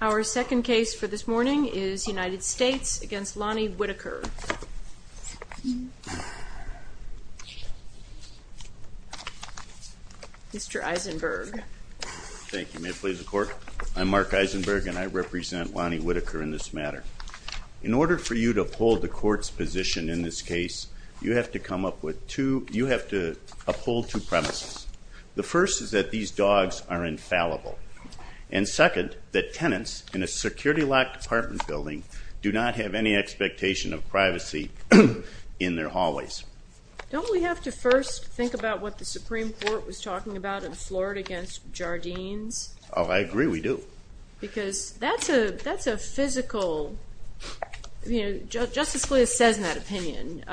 Our second case for this morning is United States v. Lonnie Whitaker. Mr. Eisenberg. Thank you. May it please the Court? I'm Mark Eisenberg, and I represent Lonnie Whitaker in this matter. In order for you to uphold the Court's position in this case, you have to come up with two you have to uphold two premises. The first is that these dogs are infallible. And second, that tenants in a security-locked apartment building do not have any expectation of privacy in their hallways. Don't we have to first think about what the Supreme Court was talking about in Florida against Jardines? Oh, I agree, we do. Because that's a physical... Justice Scalia says in that opinion,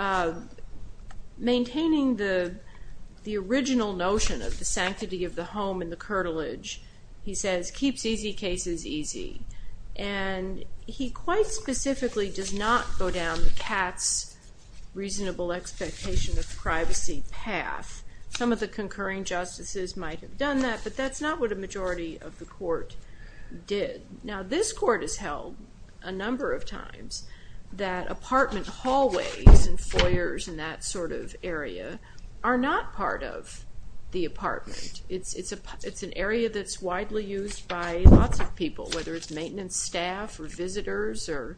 maintaining the original notion of the sanctity of the curtilage, he says, keeps easy cases easy. And he quite specifically does not go down the cat's reasonable expectation of privacy path. Some of the concurring justices might have done that, but that's not what a majority of the Court did. Now, this Court has held a number of times that apartment hallways and foyers and that sort of area are not part of the apartment. It's an area that's widely used by lots of people, whether it's maintenance staff or visitors or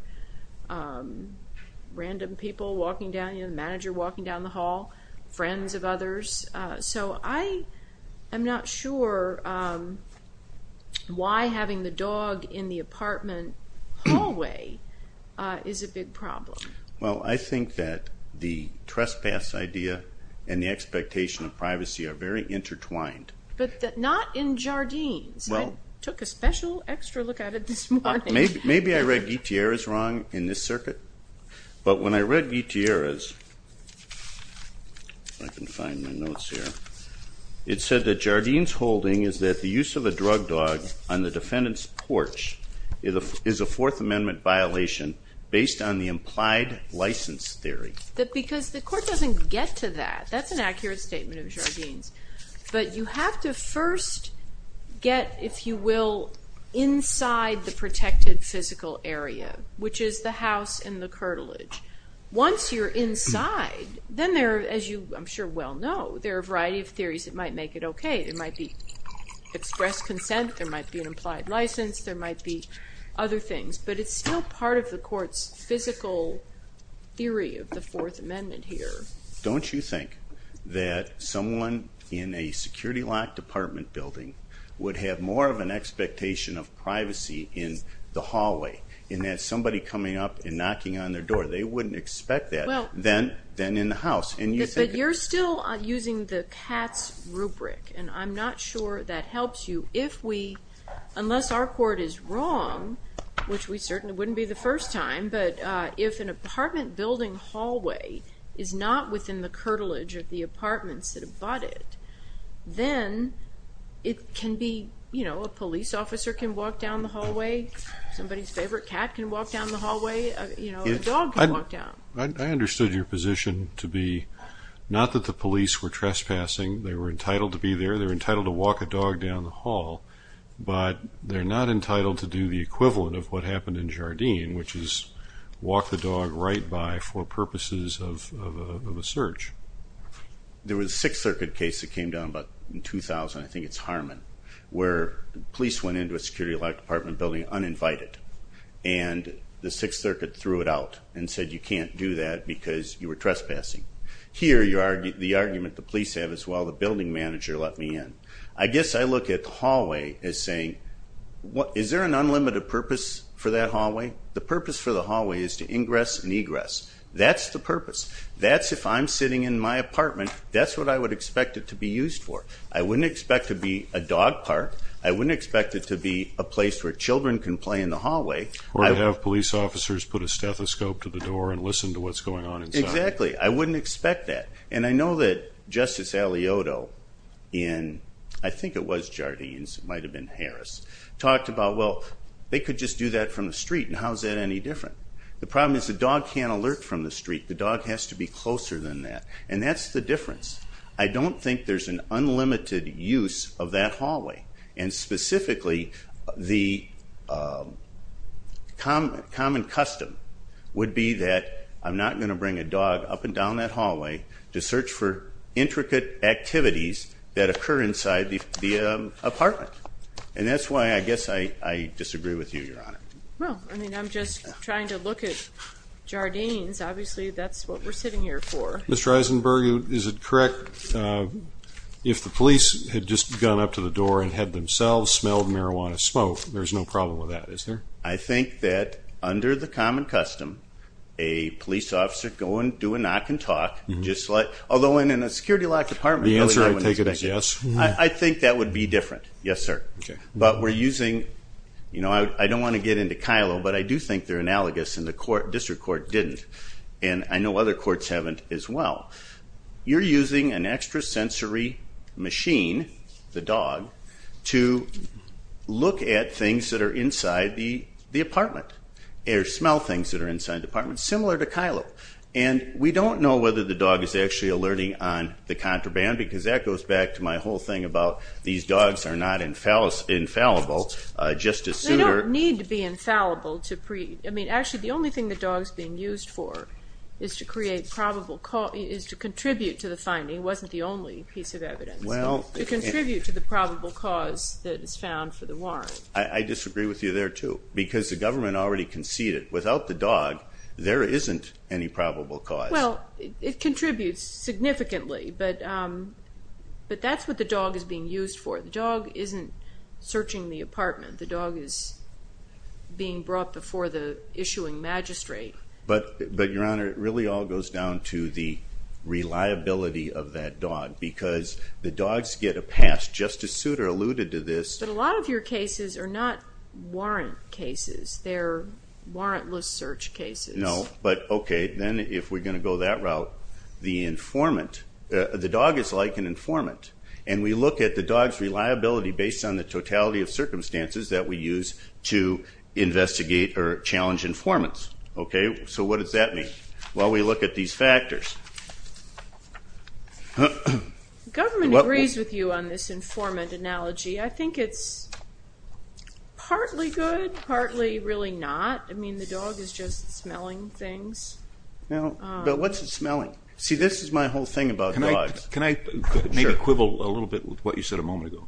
random people walking down, you know, the manager walking down the hall, friends of others. So I am not sure why having the dog in the apartment hallway is a big problem. Well, I think that the trespass idea and the expectation of privacy are very intertwined. But not in Jardines. I took a special extra look at it this morning. Maybe I read Gutierrez wrong in this circuit. But when I read Gutierrez, if I can find my notes here, it said that Jardines holding is that the use of a drug dog on the defendant's porch is a Fourth Amendment violation based on the implied license theory. Because the Court doesn't get to that. That's an accurate statement of Jardines. But you have to first get, if you will, inside the protected physical area, which is the house and the curtilage. Once you're inside, then there are, as you I'm sure well know, there are a variety of theories that might make it okay. There might be express consent. There might be an implied license. There might be other things. But it's still part of the Court's physical theory of the Fourth Amendment here. Don't you think that someone in a security lock department building would have more of an expectation of privacy in the hallway and that somebody coming up and knocking on their door, they wouldn't expect that than in the house. But you're still using the cats rubric. And I'm not sure that helps you. Unless our Court is wrong, which we certainly wouldn't be the first time, but if an apartment building hallway is not within the curtilage of the apartments that have bought it, then it can be, you know, a police officer can walk down the hallway. Somebody's favorite cat can walk down the hallway. A dog can walk down. I understood your position to be not that the police were trespassing. They were entitled to be there. They were entitled to walk a dog down the hall. But they're not entitled to do the equivalent of what happened in Jardine, which is walk the dog right by for purposes of a search. There was a Sixth Circuit case that came down about in 2000, I think it's Harmon, where police went into a security lock department building uninvited, and the Sixth Circuit threw it out and said you can't do that because you were trespassing. Here, the argument the police have as well, the building manager let me in. I guess I look at the hallway as saying, is there an unlimited purpose for that hallway? The purpose for the hallway is to ingress and egress. That's the purpose. That's if I'm sitting in my apartment, that's what I would expect it to be used for. I wouldn't expect it to be a dog park. I wouldn't expect it to be a place where children can play in the hallway. Or to have police officers put a stethoscope to the door and listen to what's going on inside. Exactly. I wouldn't expect that. And I know that Justice Alioto in, I think it was Jardines, it might have been Harris, talked about, well, they could just do that from the street, and how is that any different? The problem is the dog can't alert from the street. The dog has to be closer than that. And that's the difference. I don't think there's an unlimited use of that hallway. And specifically, the common custom would be that I'm not going to bring a dog up and down that hallway to search for intricate activities that occur inside the apartment. And that's why I guess I disagree with you, Your Honor. Well, I mean, I'm just trying to look at Jardines. Obviously, that's what we're sitting here for. Mr. Eisenberg, is it correct if the police had just gone up to the door and had themselves smelled marijuana smoke, there's no problem with that, is there? I think that under the common custom, a police officer go and do a knock and talk, although in a security-locked apartment, really I wouldn't expect it. The answer I take it is yes. I think that would be different, yes, sir. But we're using, you know, I don't want to get into Kylo, but I do think they're analogous, and the district court didn't. And I know other courts haven't as well. You're using an extrasensory machine, the dog, to look at things that are inside the apartment or smell things that are inside the apartment, similar to Kylo. And we don't know whether the dog is actually alerting on the contraband because that goes back to my whole thing about these dogs are not infallible. They don't need to be infallible. Actually, the only thing the dog is being used for is to contribute to the finding. It wasn't the only piece of evidence. To contribute to the probable cause that is found for the warrant. I disagree with you there, too, because the government already conceded without the dog there isn't any probable cause. Well, it contributes significantly, but that's what the dog is being used for. The dog isn't searching the apartment. The dog is being brought before the issuing magistrate. But, Your Honor, it really all goes down to the reliability of that dog because the dogs get a pass. Justice Souter alluded to this. But a lot of your cases are not warrant cases. They're warrantless search cases. No, but okay, then if we're going to go that route, the informant, the dog is like an informant. And we look at the dog's reliability based on the totality of circumstances that we use to investigate or challenge informants. So what does that mean? Well, we look at these factors. The government agrees with you on this informant analogy. I think it's partly good, partly really not. I mean, the dog is just smelling things. But what's it smelling? See, this is my whole thing about dogs. Can I maybe quibble a little bit with what you said a moment ago?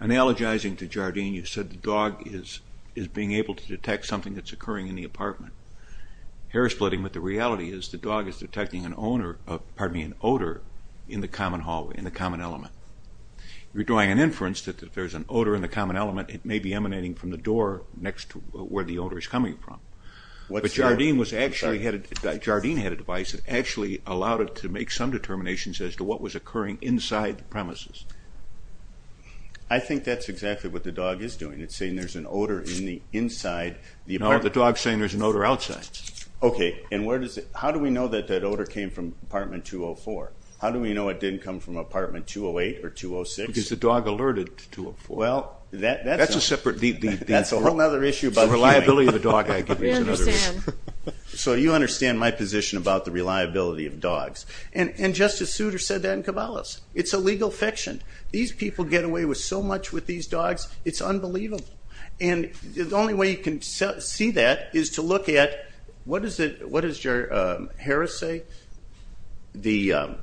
Analogizing to Jardine, you said the dog is being able to detect something that's occurring in the apartment. Hair splitting, but the reality is the dog is detecting an odor in the common element. You're drawing an inference that if there's an odor in the common element, it may be emanating from the door next to where the odor is coming from. But Jardine had a device that actually allowed it to make some determinations as to what was occurring inside the premises. I think that's exactly what the dog is doing. It's saying there's an odor in the inside. No, the dog's saying there's an odor outside. Okay, and how do we know that that odor came from apartment 204? How do we know it didn't come from apartment 208 or 206? Because the dog alerted to 204. Well, that's a whole other issue about human. It's the reliability of the dog, I guess. So you understand my position about the reliability of dogs. And Justice Souter said that in Cabalas. It's a legal fiction. These people get away with so much with these dogs, it's unbelievable. And the only way you can see that is to look at what does Harris say? The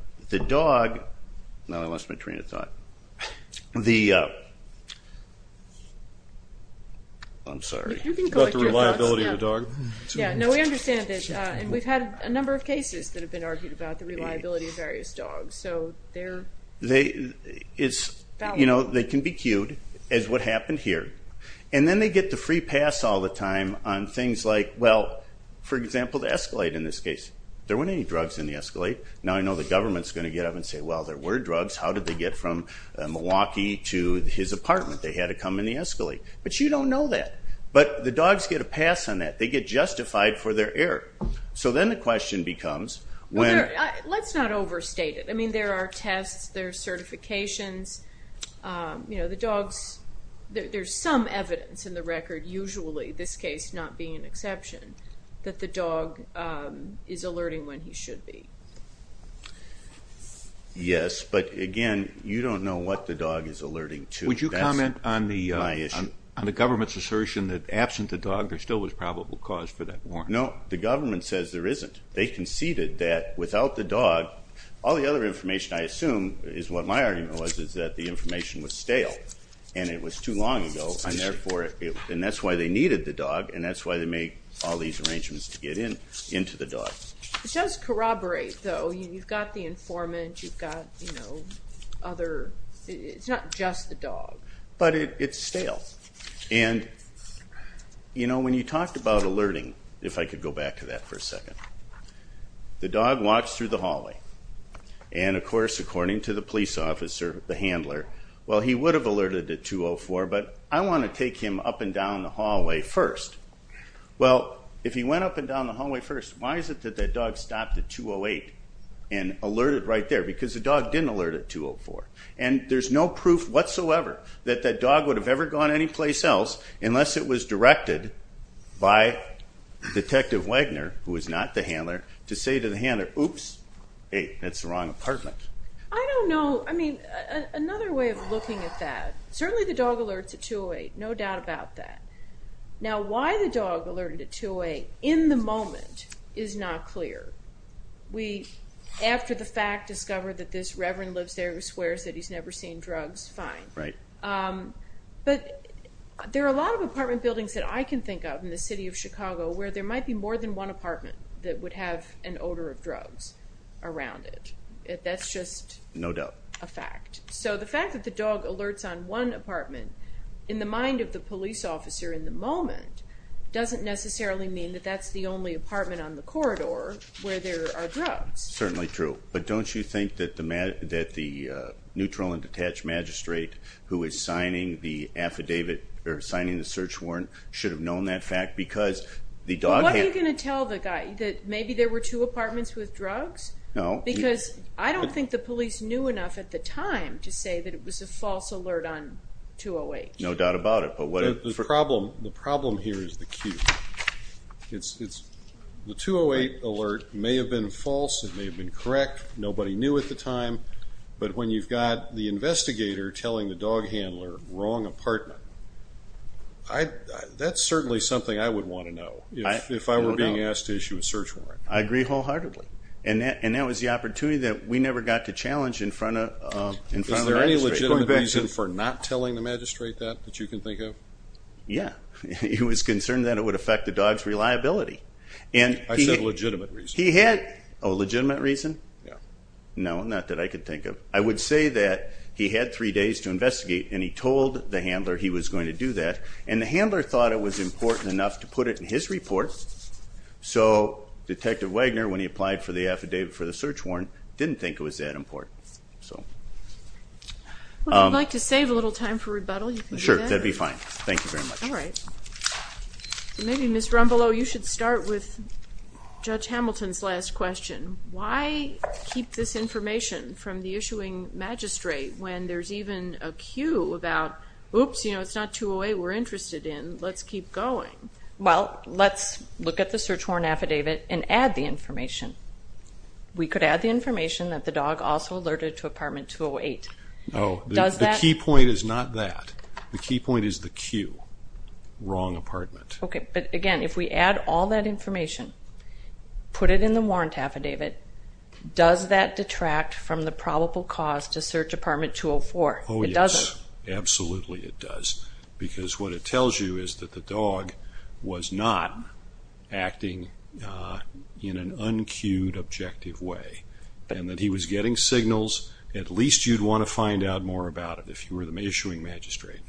dog – no, I lost my train of thought. I'm sorry. You can correct your thoughts. About the reliability of the dog. Yeah, no, we understand that. And we've had a number of cases that have been argued about the reliability of various dogs. So they're valuable. They can be cued as what happened here. And then they get the free pass all the time on things like, well, for example, the Escalade in this case. There weren't any drugs in the Escalade. Now I know the government's going to get up and say, well, there were drugs. How did they get from Milwaukee to his apartment? They had to come in the Escalade. But you don't know that. But the dogs get a pass on that. They get justified for their error. So then the question becomes when – Let's not overstate it. I mean, there are tests. There are certifications. The dogs – there's some evidence in the record, usually, this case not being an exception, that the dog is alerting when he should be. Yes, but, again, you don't know what the dog is alerting to. Would you comment on the government's assertion that, absent the dog, there still was probable cause for that warrant? No, the government says there isn't. They conceded that, without the dog, all the other information, I assume, is what my argument was, is that the information was stale and it was too long ago. And that's why they needed the dog, and that's why they made all these arrangements to get into the dog. It does corroborate, though. You've got the informant. You've got other – it's not just the dog. But it's stale. And, you know, when you talked about alerting, if I could go back to that for a second, the dog walks through the hallway. And, of course, according to the police officer, the handler, well, he would have alerted at 2.04, but I want to take him up and down the hallway first. Well, if he went up and down the hallway first, why is it that that dog stopped at 2.08 and alerted right there? Because the dog didn't alert at 2.04. And there's no proof whatsoever that that dog would have ever gone anyplace else unless it was directed by Detective Wagner, who is not the handler, to say to the handler, oops, hey, that's the wrong apartment. I don't know. I mean, another way of looking at that, certainly the dog alerts at 2.08, no doubt about that. Now, why the dog alerted at 2.08 in the moment is not clear. We, after the fact, discover that this reverend lives there who swears that he's never seen drugs, fine. Right. But there are a lot of apartment buildings that I can think of in the city of Chicago where there might be more than one apartment that would have an odor of drugs around it. That's just a fact. No doubt. So the fact that the dog alerts on one apartment, in the mind of the police officer in the moment, doesn't necessarily mean that that's the only apartment on the corridor where there are drugs. Certainly true. But don't you think that the neutral and detached magistrate who is signing the affidavit or signing the search warrant should have known that fact? Because the dog had- What are you going to tell the guy? That maybe there were two apartments with drugs? No. Because I don't think the police knew enough at the time to say that it was a false alert on 2.08. No doubt about it. The problem here is the Q. The 2.08 alert may have been false. It may have been correct. Nobody knew at the time. But when you've got the investigator telling the dog handler wrong apartment, that's certainly something I would want to know if I were being asked to issue a search warrant. I agree wholeheartedly. And that was the opportunity that we never got to challenge in front of the magistrate. Is there a legitimate reason for not telling the magistrate that, that you can think of? Yeah. He was concerned that it would affect the dog's reliability. I said legitimate reason. He had a legitimate reason? Yeah. No, not that I could think of. I would say that he had three days to investigate, and he told the handler he was going to do that. And the handler thought it was important enough to put it in his report, so Detective Wagner, when he applied for the affidavit for the search warrant, didn't think it was that important. If you'd like to save a little time for rebuttal, you can do that. Sure, that would be fine. Thank you very much. All right. Maybe, Ms. Rumbleau, you should start with Judge Hamilton's last question. Why keep this information from the issuing magistrate when there's even a cue about, oops, you know, it's not 208 we're interested in, let's keep going? We could add the information that the dog also alerted to apartment 208. No, the key point is not that. The key point is the cue, wrong apartment. Okay, but, again, if we add all that information, put it in the warrant affidavit, does that detract from the probable cause to search apartment 204? It doesn't. Oh, yes, absolutely it does, because what it tells you is that the dog was not acting in an uncued, objective way, and that he was getting signals. At least you'd want to find out more about it if you were the issuing magistrate.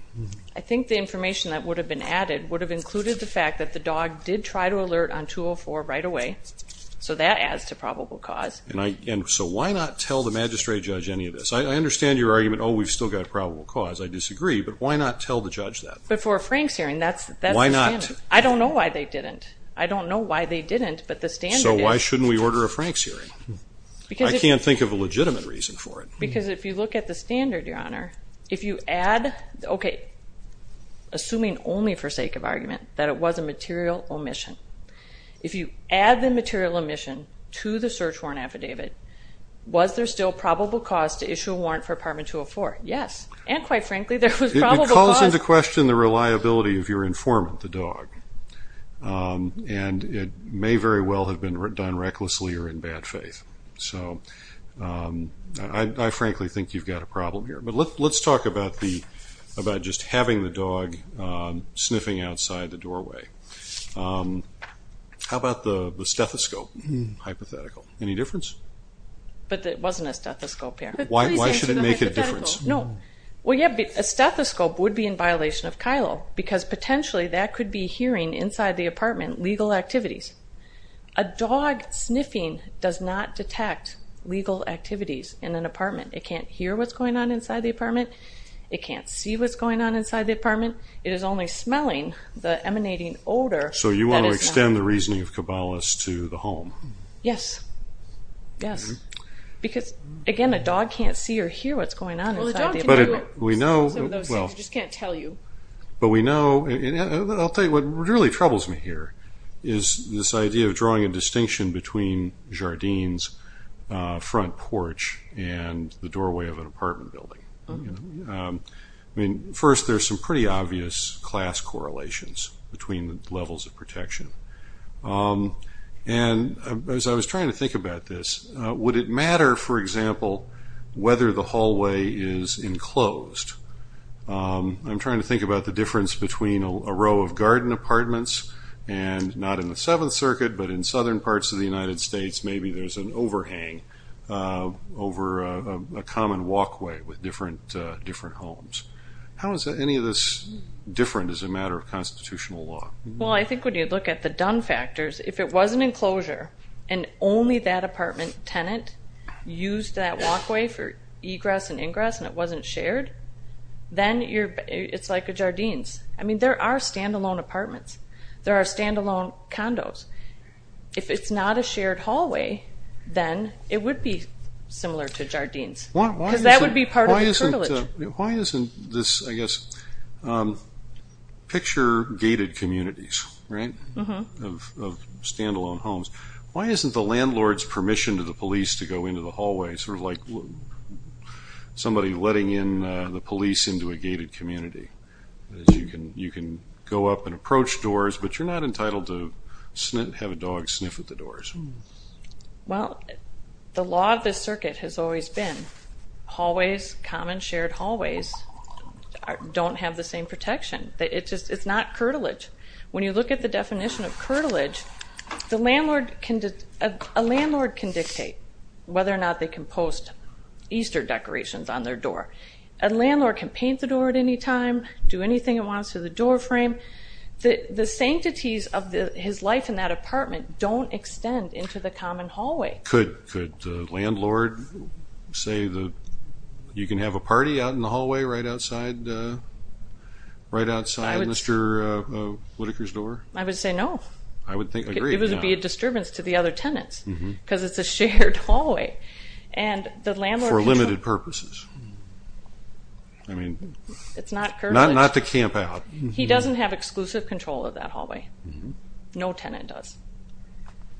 I think the information that would have been added would have included the fact that the dog did try to alert on 204 right away, so that adds to probable cause. And so why not tell the magistrate judge any of this? I understand your argument, oh, we've still got probable cause. I disagree, but why not tell the judge that? But for a Franks hearing, that's the standard. Why not? I don't know why they didn't. I don't know why they didn't, but the standard is. So why shouldn't we order a Franks hearing? I can't think of a legitimate reason for it. Because if you look at the standard, Your Honor, if you add, okay, assuming only for sake of argument that it was a material omission, if you add the material omission to the search warrant affidavit, was there still probable cause to issue a warrant for apartment 204? Yes. And, quite frankly, there was probable cause. It would cause into question the reliability of your informant, the dog, and it may very well have been done recklessly or in bad faith. So I frankly think you've got a problem here. But let's talk about just having the dog sniffing outside the doorway. How about the stethoscope hypothetical? Any difference? But it wasn't a stethoscope here. Why should it make a difference? Well, yeah, a stethoscope would be in violation of KILO because potentially that could be hearing inside the apartment legal activities. A dog sniffing does not detect legal activities in an apartment. It can't hear what's going on inside the apartment. It can't see what's going on inside the apartment. It is only smelling the emanating odor. So you want to extend the reasoning of Cabalas to the home? Yes, yes. Because, again, a dog can't see or hear what's going on inside the apartment. Well, a dog can hear some of those things. It just can't tell you. But we know, and I'll tell you what really troubles me here, is this idea of drawing a distinction between Jardine's front porch and the doorway of an apartment building. First, there's some pretty obvious class correlations between the levels of protection. And as I was trying to think about this, would it matter, for example, whether the hallway is enclosed? I'm trying to think about the difference between a row of Jardine apartments and not in the Seventh Circuit, but in southern parts of the United States, maybe there's an overhang over a common walkway with different homes. How is any of this different as a matter of constitutional law? Well, I think when you look at the done factors, if it was an enclosure and only that apartment tenant used that walkway for egress and ingress and it wasn't shared, then it's like a Jardine's. I mean, there are standalone apartments. There are standalone condos. If it's not a shared hallway, then it would be similar to Jardine's because that would be part of the curtilage. Why isn't this, I guess, picture gated communities, right, of standalone homes? Why isn't the landlord's permission to the police to go into the hallway sort of like somebody letting in the police into a gated community? You can go up and approach doors, but you're not entitled to have a dog sniff at the doors. Well, the law of the circuit has always been that common shared hallways don't have the same protection. It's not curtilage. When you look at the definition of curtilage, a landlord can dictate whether or not they can post Easter decorations on their door. A landlord can paint the door at any time, do anything it wants to the doorframe. The sanctities of his life in that apartment don't extend into the common hallway. Could the landlord say that you can have a party out in the hallway right outside Mr. Whitaker's door? I would say no. I would agree. It would be a disturbance to the other tenants because it's a shared hallway. For limited purposes. It's not curtilage. Not to camp out. He doesn't have exclusive control of that hallway. No tenant does.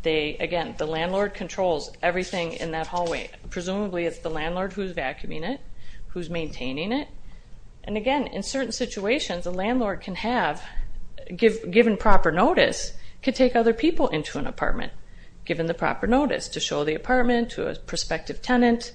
Again, the landlord controls everything in that hallway. Presumably it's the landlord who's vacuuming it, who's maintaining it. And again, in certain situations, a landlord can have, given proper notice, could take other people into an apartment, given the proper notice, to show the apartment to a prospective tenant.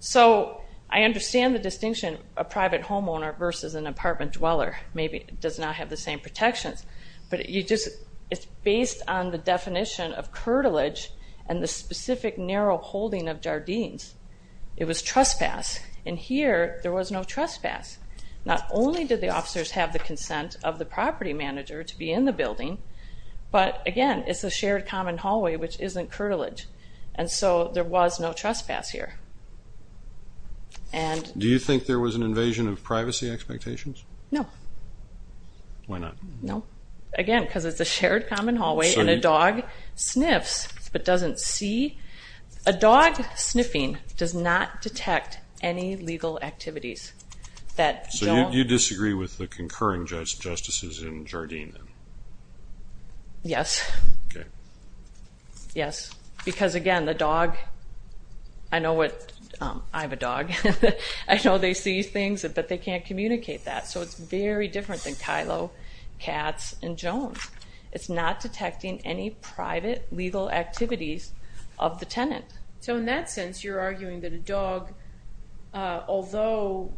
So I understand the distinction of private homeowner versus an apartment dweller. Maybe it does not have the same protections, but it's based on the definition of curtilage and the specific narrow holding of jardines. It was trespass. And here there was no trespass. Not only did the officers have the consent of the property manager to be in the building, but, again, it's a shared common hallway, which isn't curtilage. And so there was no trespass here. Do you think there was an invasion of privacy expectations? No. Why not? No. Again, because it's a shared common hallway and a dog sniffs but doesn't see. A dog sniffing does not detect any legal activities. So you disagree with the concurring justices in jardines? Yes. Okay. Yes. Because, again, the dog – I know what – I have a dog. I know they see things, but they can't communicate that. So it's very different than Kylo, Cats, and Jones. It's not detecting any private legal activities of the tenant. So in that sense, you're arguing that a dog, although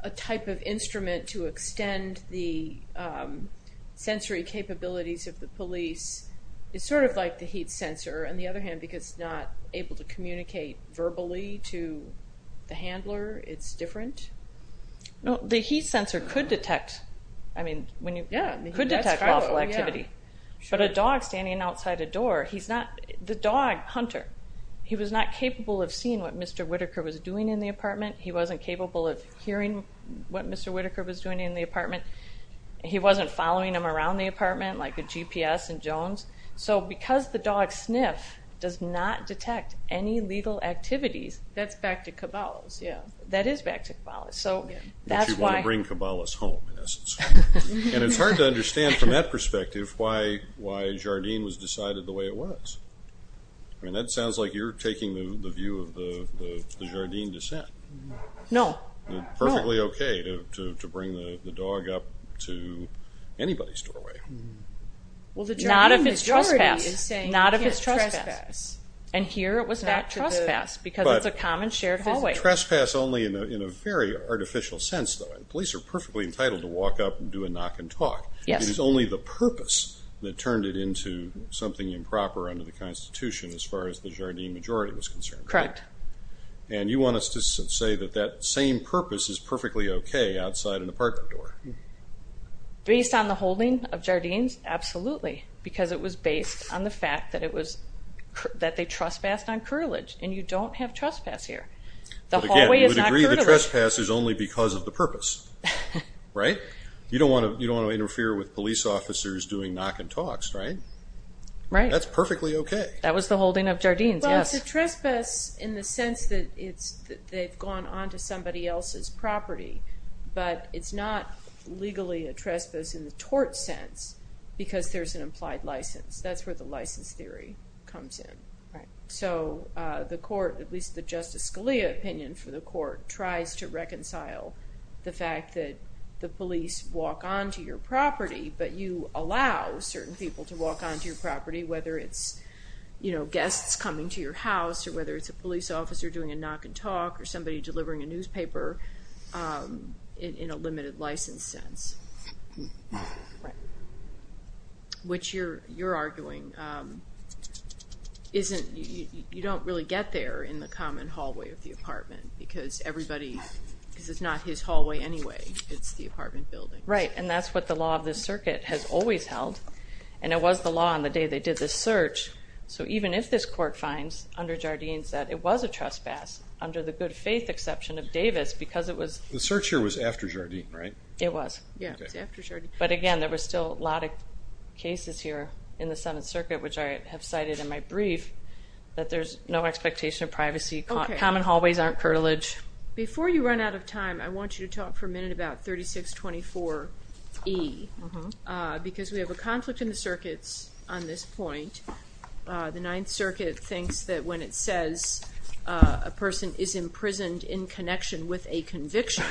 a type of instrument to extend the sensory capabilities of the police, is sort of like the heat sensor. On the other hand, because it's not able to communicate verbally to the handler, it's different? No. The heat sensor could detect – I mean, when you – Yeah. Could detect lawful activity. But a dog standing outside a door, he's not – the dog, Hunter, he was not capable of seeing what Mr. Whittaker was doing in the apartment. He wasn't capable of hearing what Mr. Whittaker was doing in the apartment. He wasn't following him around the apartment like a GPS in Jones. So because the dog sniff does not detect any legal activities – That's back to Cabal's. Yeah. That is back to Cabal's. But you want to bring Cabal's home, in essence. And it's hard to understand, from that perspective, why Jardine was decided the way it was. I mean, that sounds like you're taking the view of the Jardine descent. No. Perfectly okay to bring the dog up to anybody's doorway. Well, the Jardine majority is saying you can't trespass. Not if it's trespass. And here it was not trespass because it's a common shared hallway. It was trespass only in a very artificial sense, though. Police are perfectly entitled to walk up and do a knock and talk. Yes. It was only the purpose that turned it into something improper under the Constitution as far as the Jardine majority was concerned. Correct. And you want us to say that that same purpose is perfectly okay outside an apartment door. Based on the holding of Jardine's? Absolutely, because it was based on the fact that they trespassed on The trespass is only because of the purpose, right? You don't want to interfere with police officers doing knock and talks, right? Right. That's perfectly okay. That was the holding of Jardine's, yes. Well, it's a trespass in the sense that they've gone on to somebody else's property, but it's not legally a trespass in the tort sense because there's an implied license. That's where the license theory comes in. Right. And so the court, at least the Justice Scalia opinion for the court, tries to reconcile the fact that the police walk onto your property, but you allow certain people to walk onto your property, whether it's guests coming to your house, or whether it's a police officer doing a knock and talk, or somebody delivering a newspaper in a limited license sense. Right. Which you're arguing isn't, you don't really get there in the common hallway of the apartment because everybody, because it's not his hallway anyway. It's the apartment building. Right. And that's what the law of this circuit has always held. And it was the law on the day they did this search. So even if this court finds under Jardine's that it was a trespass, under the good faith exception of Davis, because it was. The search here was after Jardine, right? It was. Yeah, it was after Jardine. But again, there was still a lot of cases here in the Senate circuit, which I have cited in my brief, that there's no expectation of privacy. Common hallways aren't curtilage. Before you run out of time, I want you to talk for a minute about 3624E. Because we have a conflict in the circuits on this point. The Ninth Circuit thinks that when it says a person is imprisoned in connection with a conviction,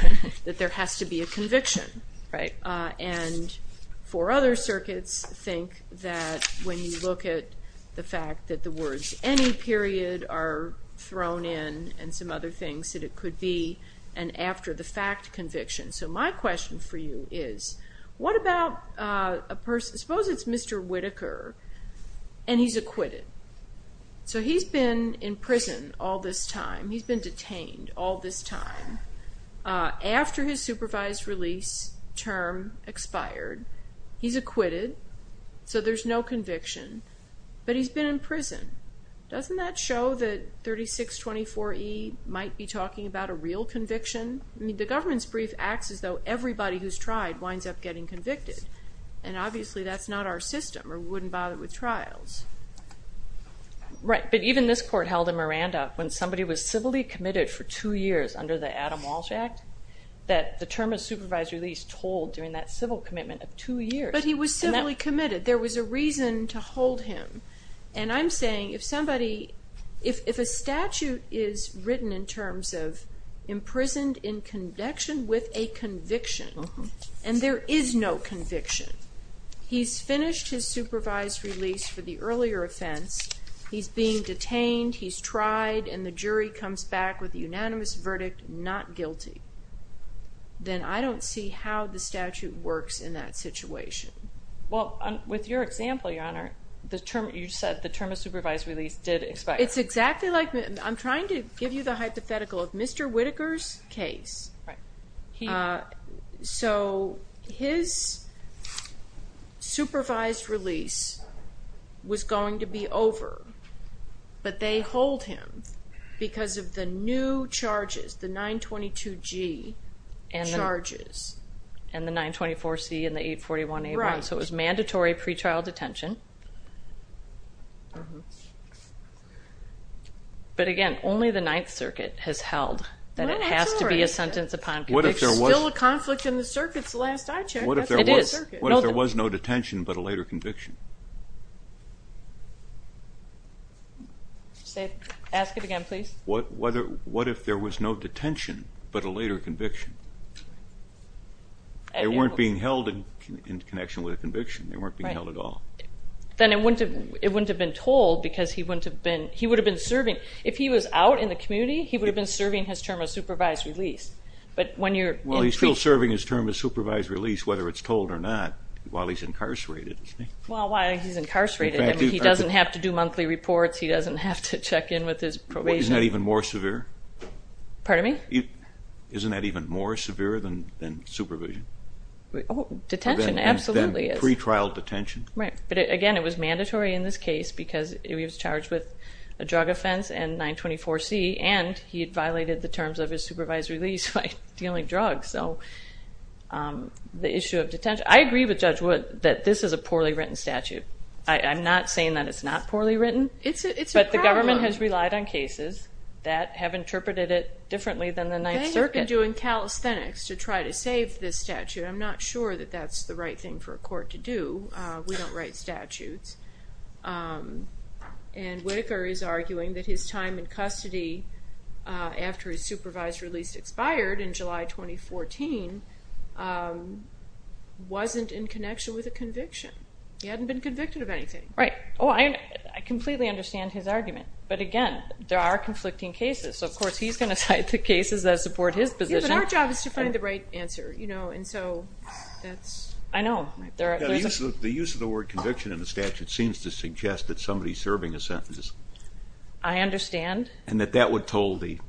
that there has to be a conviction. Right. And four other circuits think that when you look at the fact that the words any period are thrown in and some other things that it could be and after the fact conviction. So my question for you is, what about a person, suppose it's Mr. Whitaker and he's acquitted. So he's been in prison all this time. He's been detained all this time. After his supervised release term expired, he's acquitted. So there's no conviction. But he's been in prison. Doesn't that show that 3624E might be talking about a real conviction? I mean, the government's brief acts as though everybody who's tried winds up getting convicted. And obviously that's not our system or we wouldn't bother with trials. Right. But even this court held in Miranda, when somebody was civilly committed for two years under the Adam Walsh Act, that the term of supervised release told during that civil commitment of two years. But he was civilly committed. There was a reason to hold him. And I'm saying if somebody, if a statute is written in terms of imprisoned in connection with a conviction and there is no conviction, he's finished his supervised release for the earlier offense, he's being detained, he's tried, and the jury comes back with a unanimous verdict, not guilty, then I don't see how the statute works in that situation. Well, with your example, Your Honor, you said the term of supervised release did expire. It's exactly like, I'm trying to give you the hypothetical of Mr. Whittaker's case. Right. So his supervised release was going to be over, but they hold him because of the new charges, the 922G charges. And the 924C and the 841A. Right. So it was mandatory pre-trial detention. But again, only the Ninth Circuit has held that it has to be a sentence upon conviction. It's still a conflict in the circuit. It's the last I checked. It is. What if there was no detention but a later conviction? Ask it again, please. What if there was no detention but a later conviction? They weren't being held in connection with a conviction. They weren't being held at all. Then it wouldn't have been told because he wouldn't have been, he would have been serving. If he was out in the community, he would have been serving his term of supervised release. Well, he's still serving his term of supervised release, whether it's told or not, while he's incarcerated. Well, while he's incarcerated. He doesn't have to do monthly reports. He doesn't have to check in with his probation. Isn't that even more severe? Pardon me? Isn't that even more severe than supervision? Detention, absolutely. Pre-trial detention. Right. But, again, it was mandatory in this case because he was charged with a crime and he had violated the terms of his supervised release by dealing drugs, so the issue of detention. I agree with Judge Wood that this is a poorly written statute. I'm not saying that it's not poorly written. It's a problem. But the government has relied on cases that have interpreted it differently than the Ninth Circuit. They have been doing calisthenics to try to save this statute. I'm not sure that that's the right thing for a court to do. We don't write statutes. And Whitaker is arguing that his time in custody after his supervised release expired in July 2014 wasn't in connection with a conviction. He hadn't been convicted of anything. Right. Oh, I completely understand his argument. But, again, there are conflicting cases. So, of course, he's going to cite the cases that support his position. Yeah, but our job is to find the right answer, you know, and so that's. I know. The use of the word conviction in the statute seems to suggest that somebody is serving a sentence. I understand. And that that would toll the supervision.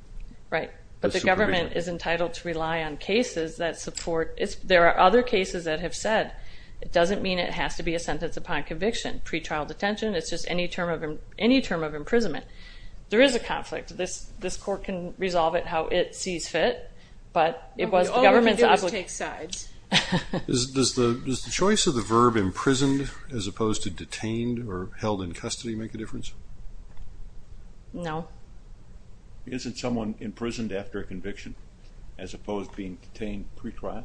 Right. But the government is entitled to rely on cases that support. There are other cases that have said it doesn't mean it has to be a sentence upon conviction. Pre-trial detention, it's just any term of imprisonment. There is a conflict. This court can resolve it how it sees fit. But it was the government's obligation. Does the choice of the verb imprisoned as opposed to detained or held in custody make a difference? No. Isn't someone imprisoned after a conviction as opposed to being detained pre-trial?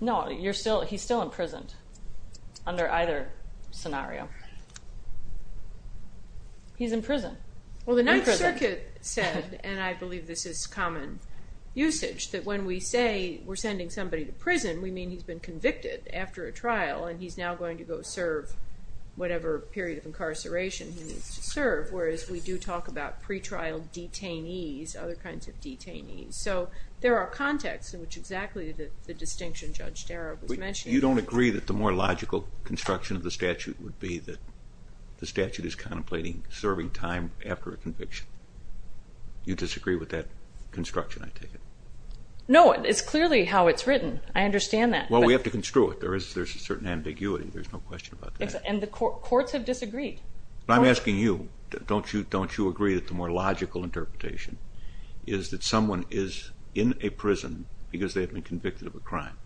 No. He's still imprisoned under either scenario. He's in prison. Well, the Ninth Circuit said, and I believe this is common usage, that when we say we're sending somebody to prison, we mean he's been convicted after a trial and he's now going to go serve whatever period of incarceration he needs to serve, whereas we do talk about pre-trial detainees, other kinds of detainees. So there are contexts in which exactly the distinction Judge Darab was mentioning. You don't agree that the more logical construction of the statute would be that the statute is contemplating serving time after a conviction? You disagree with that construction, I take it? No, it's clearly how it's written. I understand that. Well, we have to construe it. There's a certain ambiguity. There's no question about that. And the courts have disagreed. I'm asking you, don't you agree that the more logical interpretation is that someone is in a prison because they've been convicted of a crime?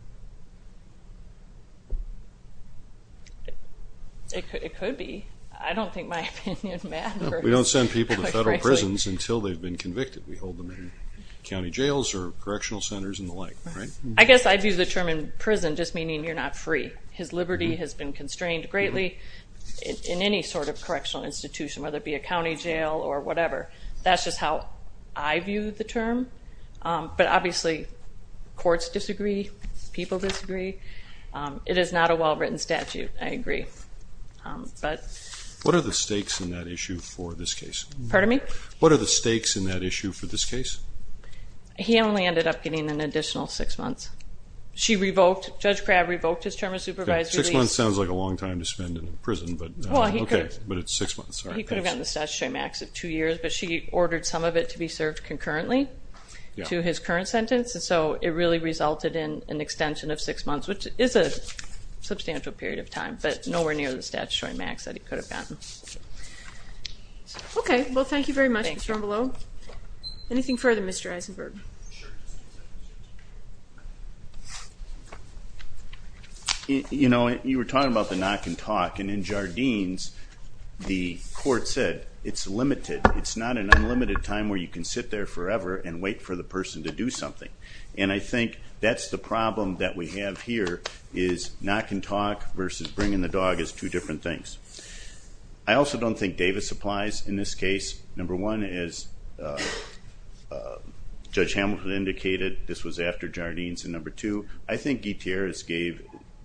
It could be. I don't think my opinion matters. We don't send people to federal prisons until they've been convicted. We hold them in county jails or correctional centers and the like, right? I guess I view the term in prison just meaning you're not free. His liberty has been constrained greatly in any sort of correctional institution, whether it be a county jail or whatever. That's just how I view the term. But obviously courts disagree, people disagree. It is not a well-written statute, I agree. What are the stakes in that issue for this case? Pardon me? What are the stakes in that issue for this case? He only ended up getting an additional six months. She revoked, Judge Crabb revoked his term of supervised release. Six months sounds like a long time to spend in prison, but it's six months. He could have gotten the statutory max of two years, but she ordered some of it to be served concurrently to his current sentence, and so it really resulted in an extension of six months, which is a substantial period of time, but nowhere near the statutory max that he could have gotten. Okay. Well, thank you very much. Anything further, Mr. Eisenberg? Sure. You know, you were talking about the knock and talk, and in Jardines, the court said it's limited. It's not an unlimited time where you can sit there forever and wait for the person to do something. And I think that's the problem that we have here, is knock and talk versus bringing the dog is two different things. I also don't think Davis applies in this case. Number one, as Judge Hamilton indicated, this was after Jardines. And number two, I think Gutierrez gave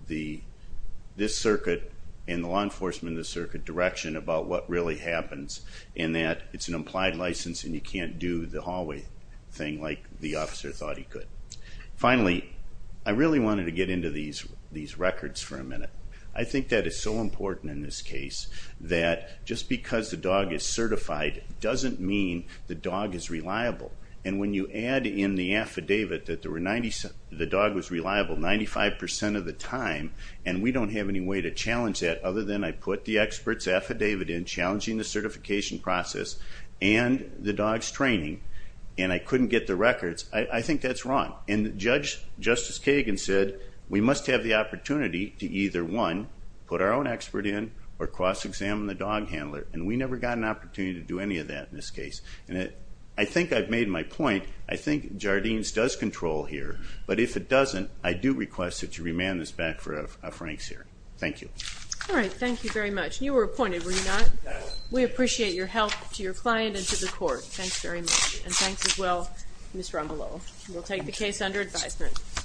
this circuit and the law enforcement of this circuit direction about what really happens in that it's an implied license and you can't do the hallway thing like the officer thought he could. Finally, I really wanted to get into these records for a minute. I think that is so important in this case that just because the dog is certified doesn't mean the dog is reliable. And when you add in the affidavit that the dog was reliable 95% of the time and we don't have any way to challenge that other than I put the expert's affidavit in challenging the certification process and the dog's training, and I couldn't get the records, I think that's wrong. And Justice Kagan said we must have the opportunity to either, one, put our own expert in or cross-examine the dog handler, and we never got an opportunity to do any of that in this case. And I think I've made my point. I think Jardines does control here, but if it doesn't, I do request that you remand this back for a franks here. Thank you. All right, thank you very much. And you were appointed, were you not? I was. We appreciate your help to your client and to the court. Thanks very much. And thanks as well, Ms. Rombolo. We'll take the case under advisement.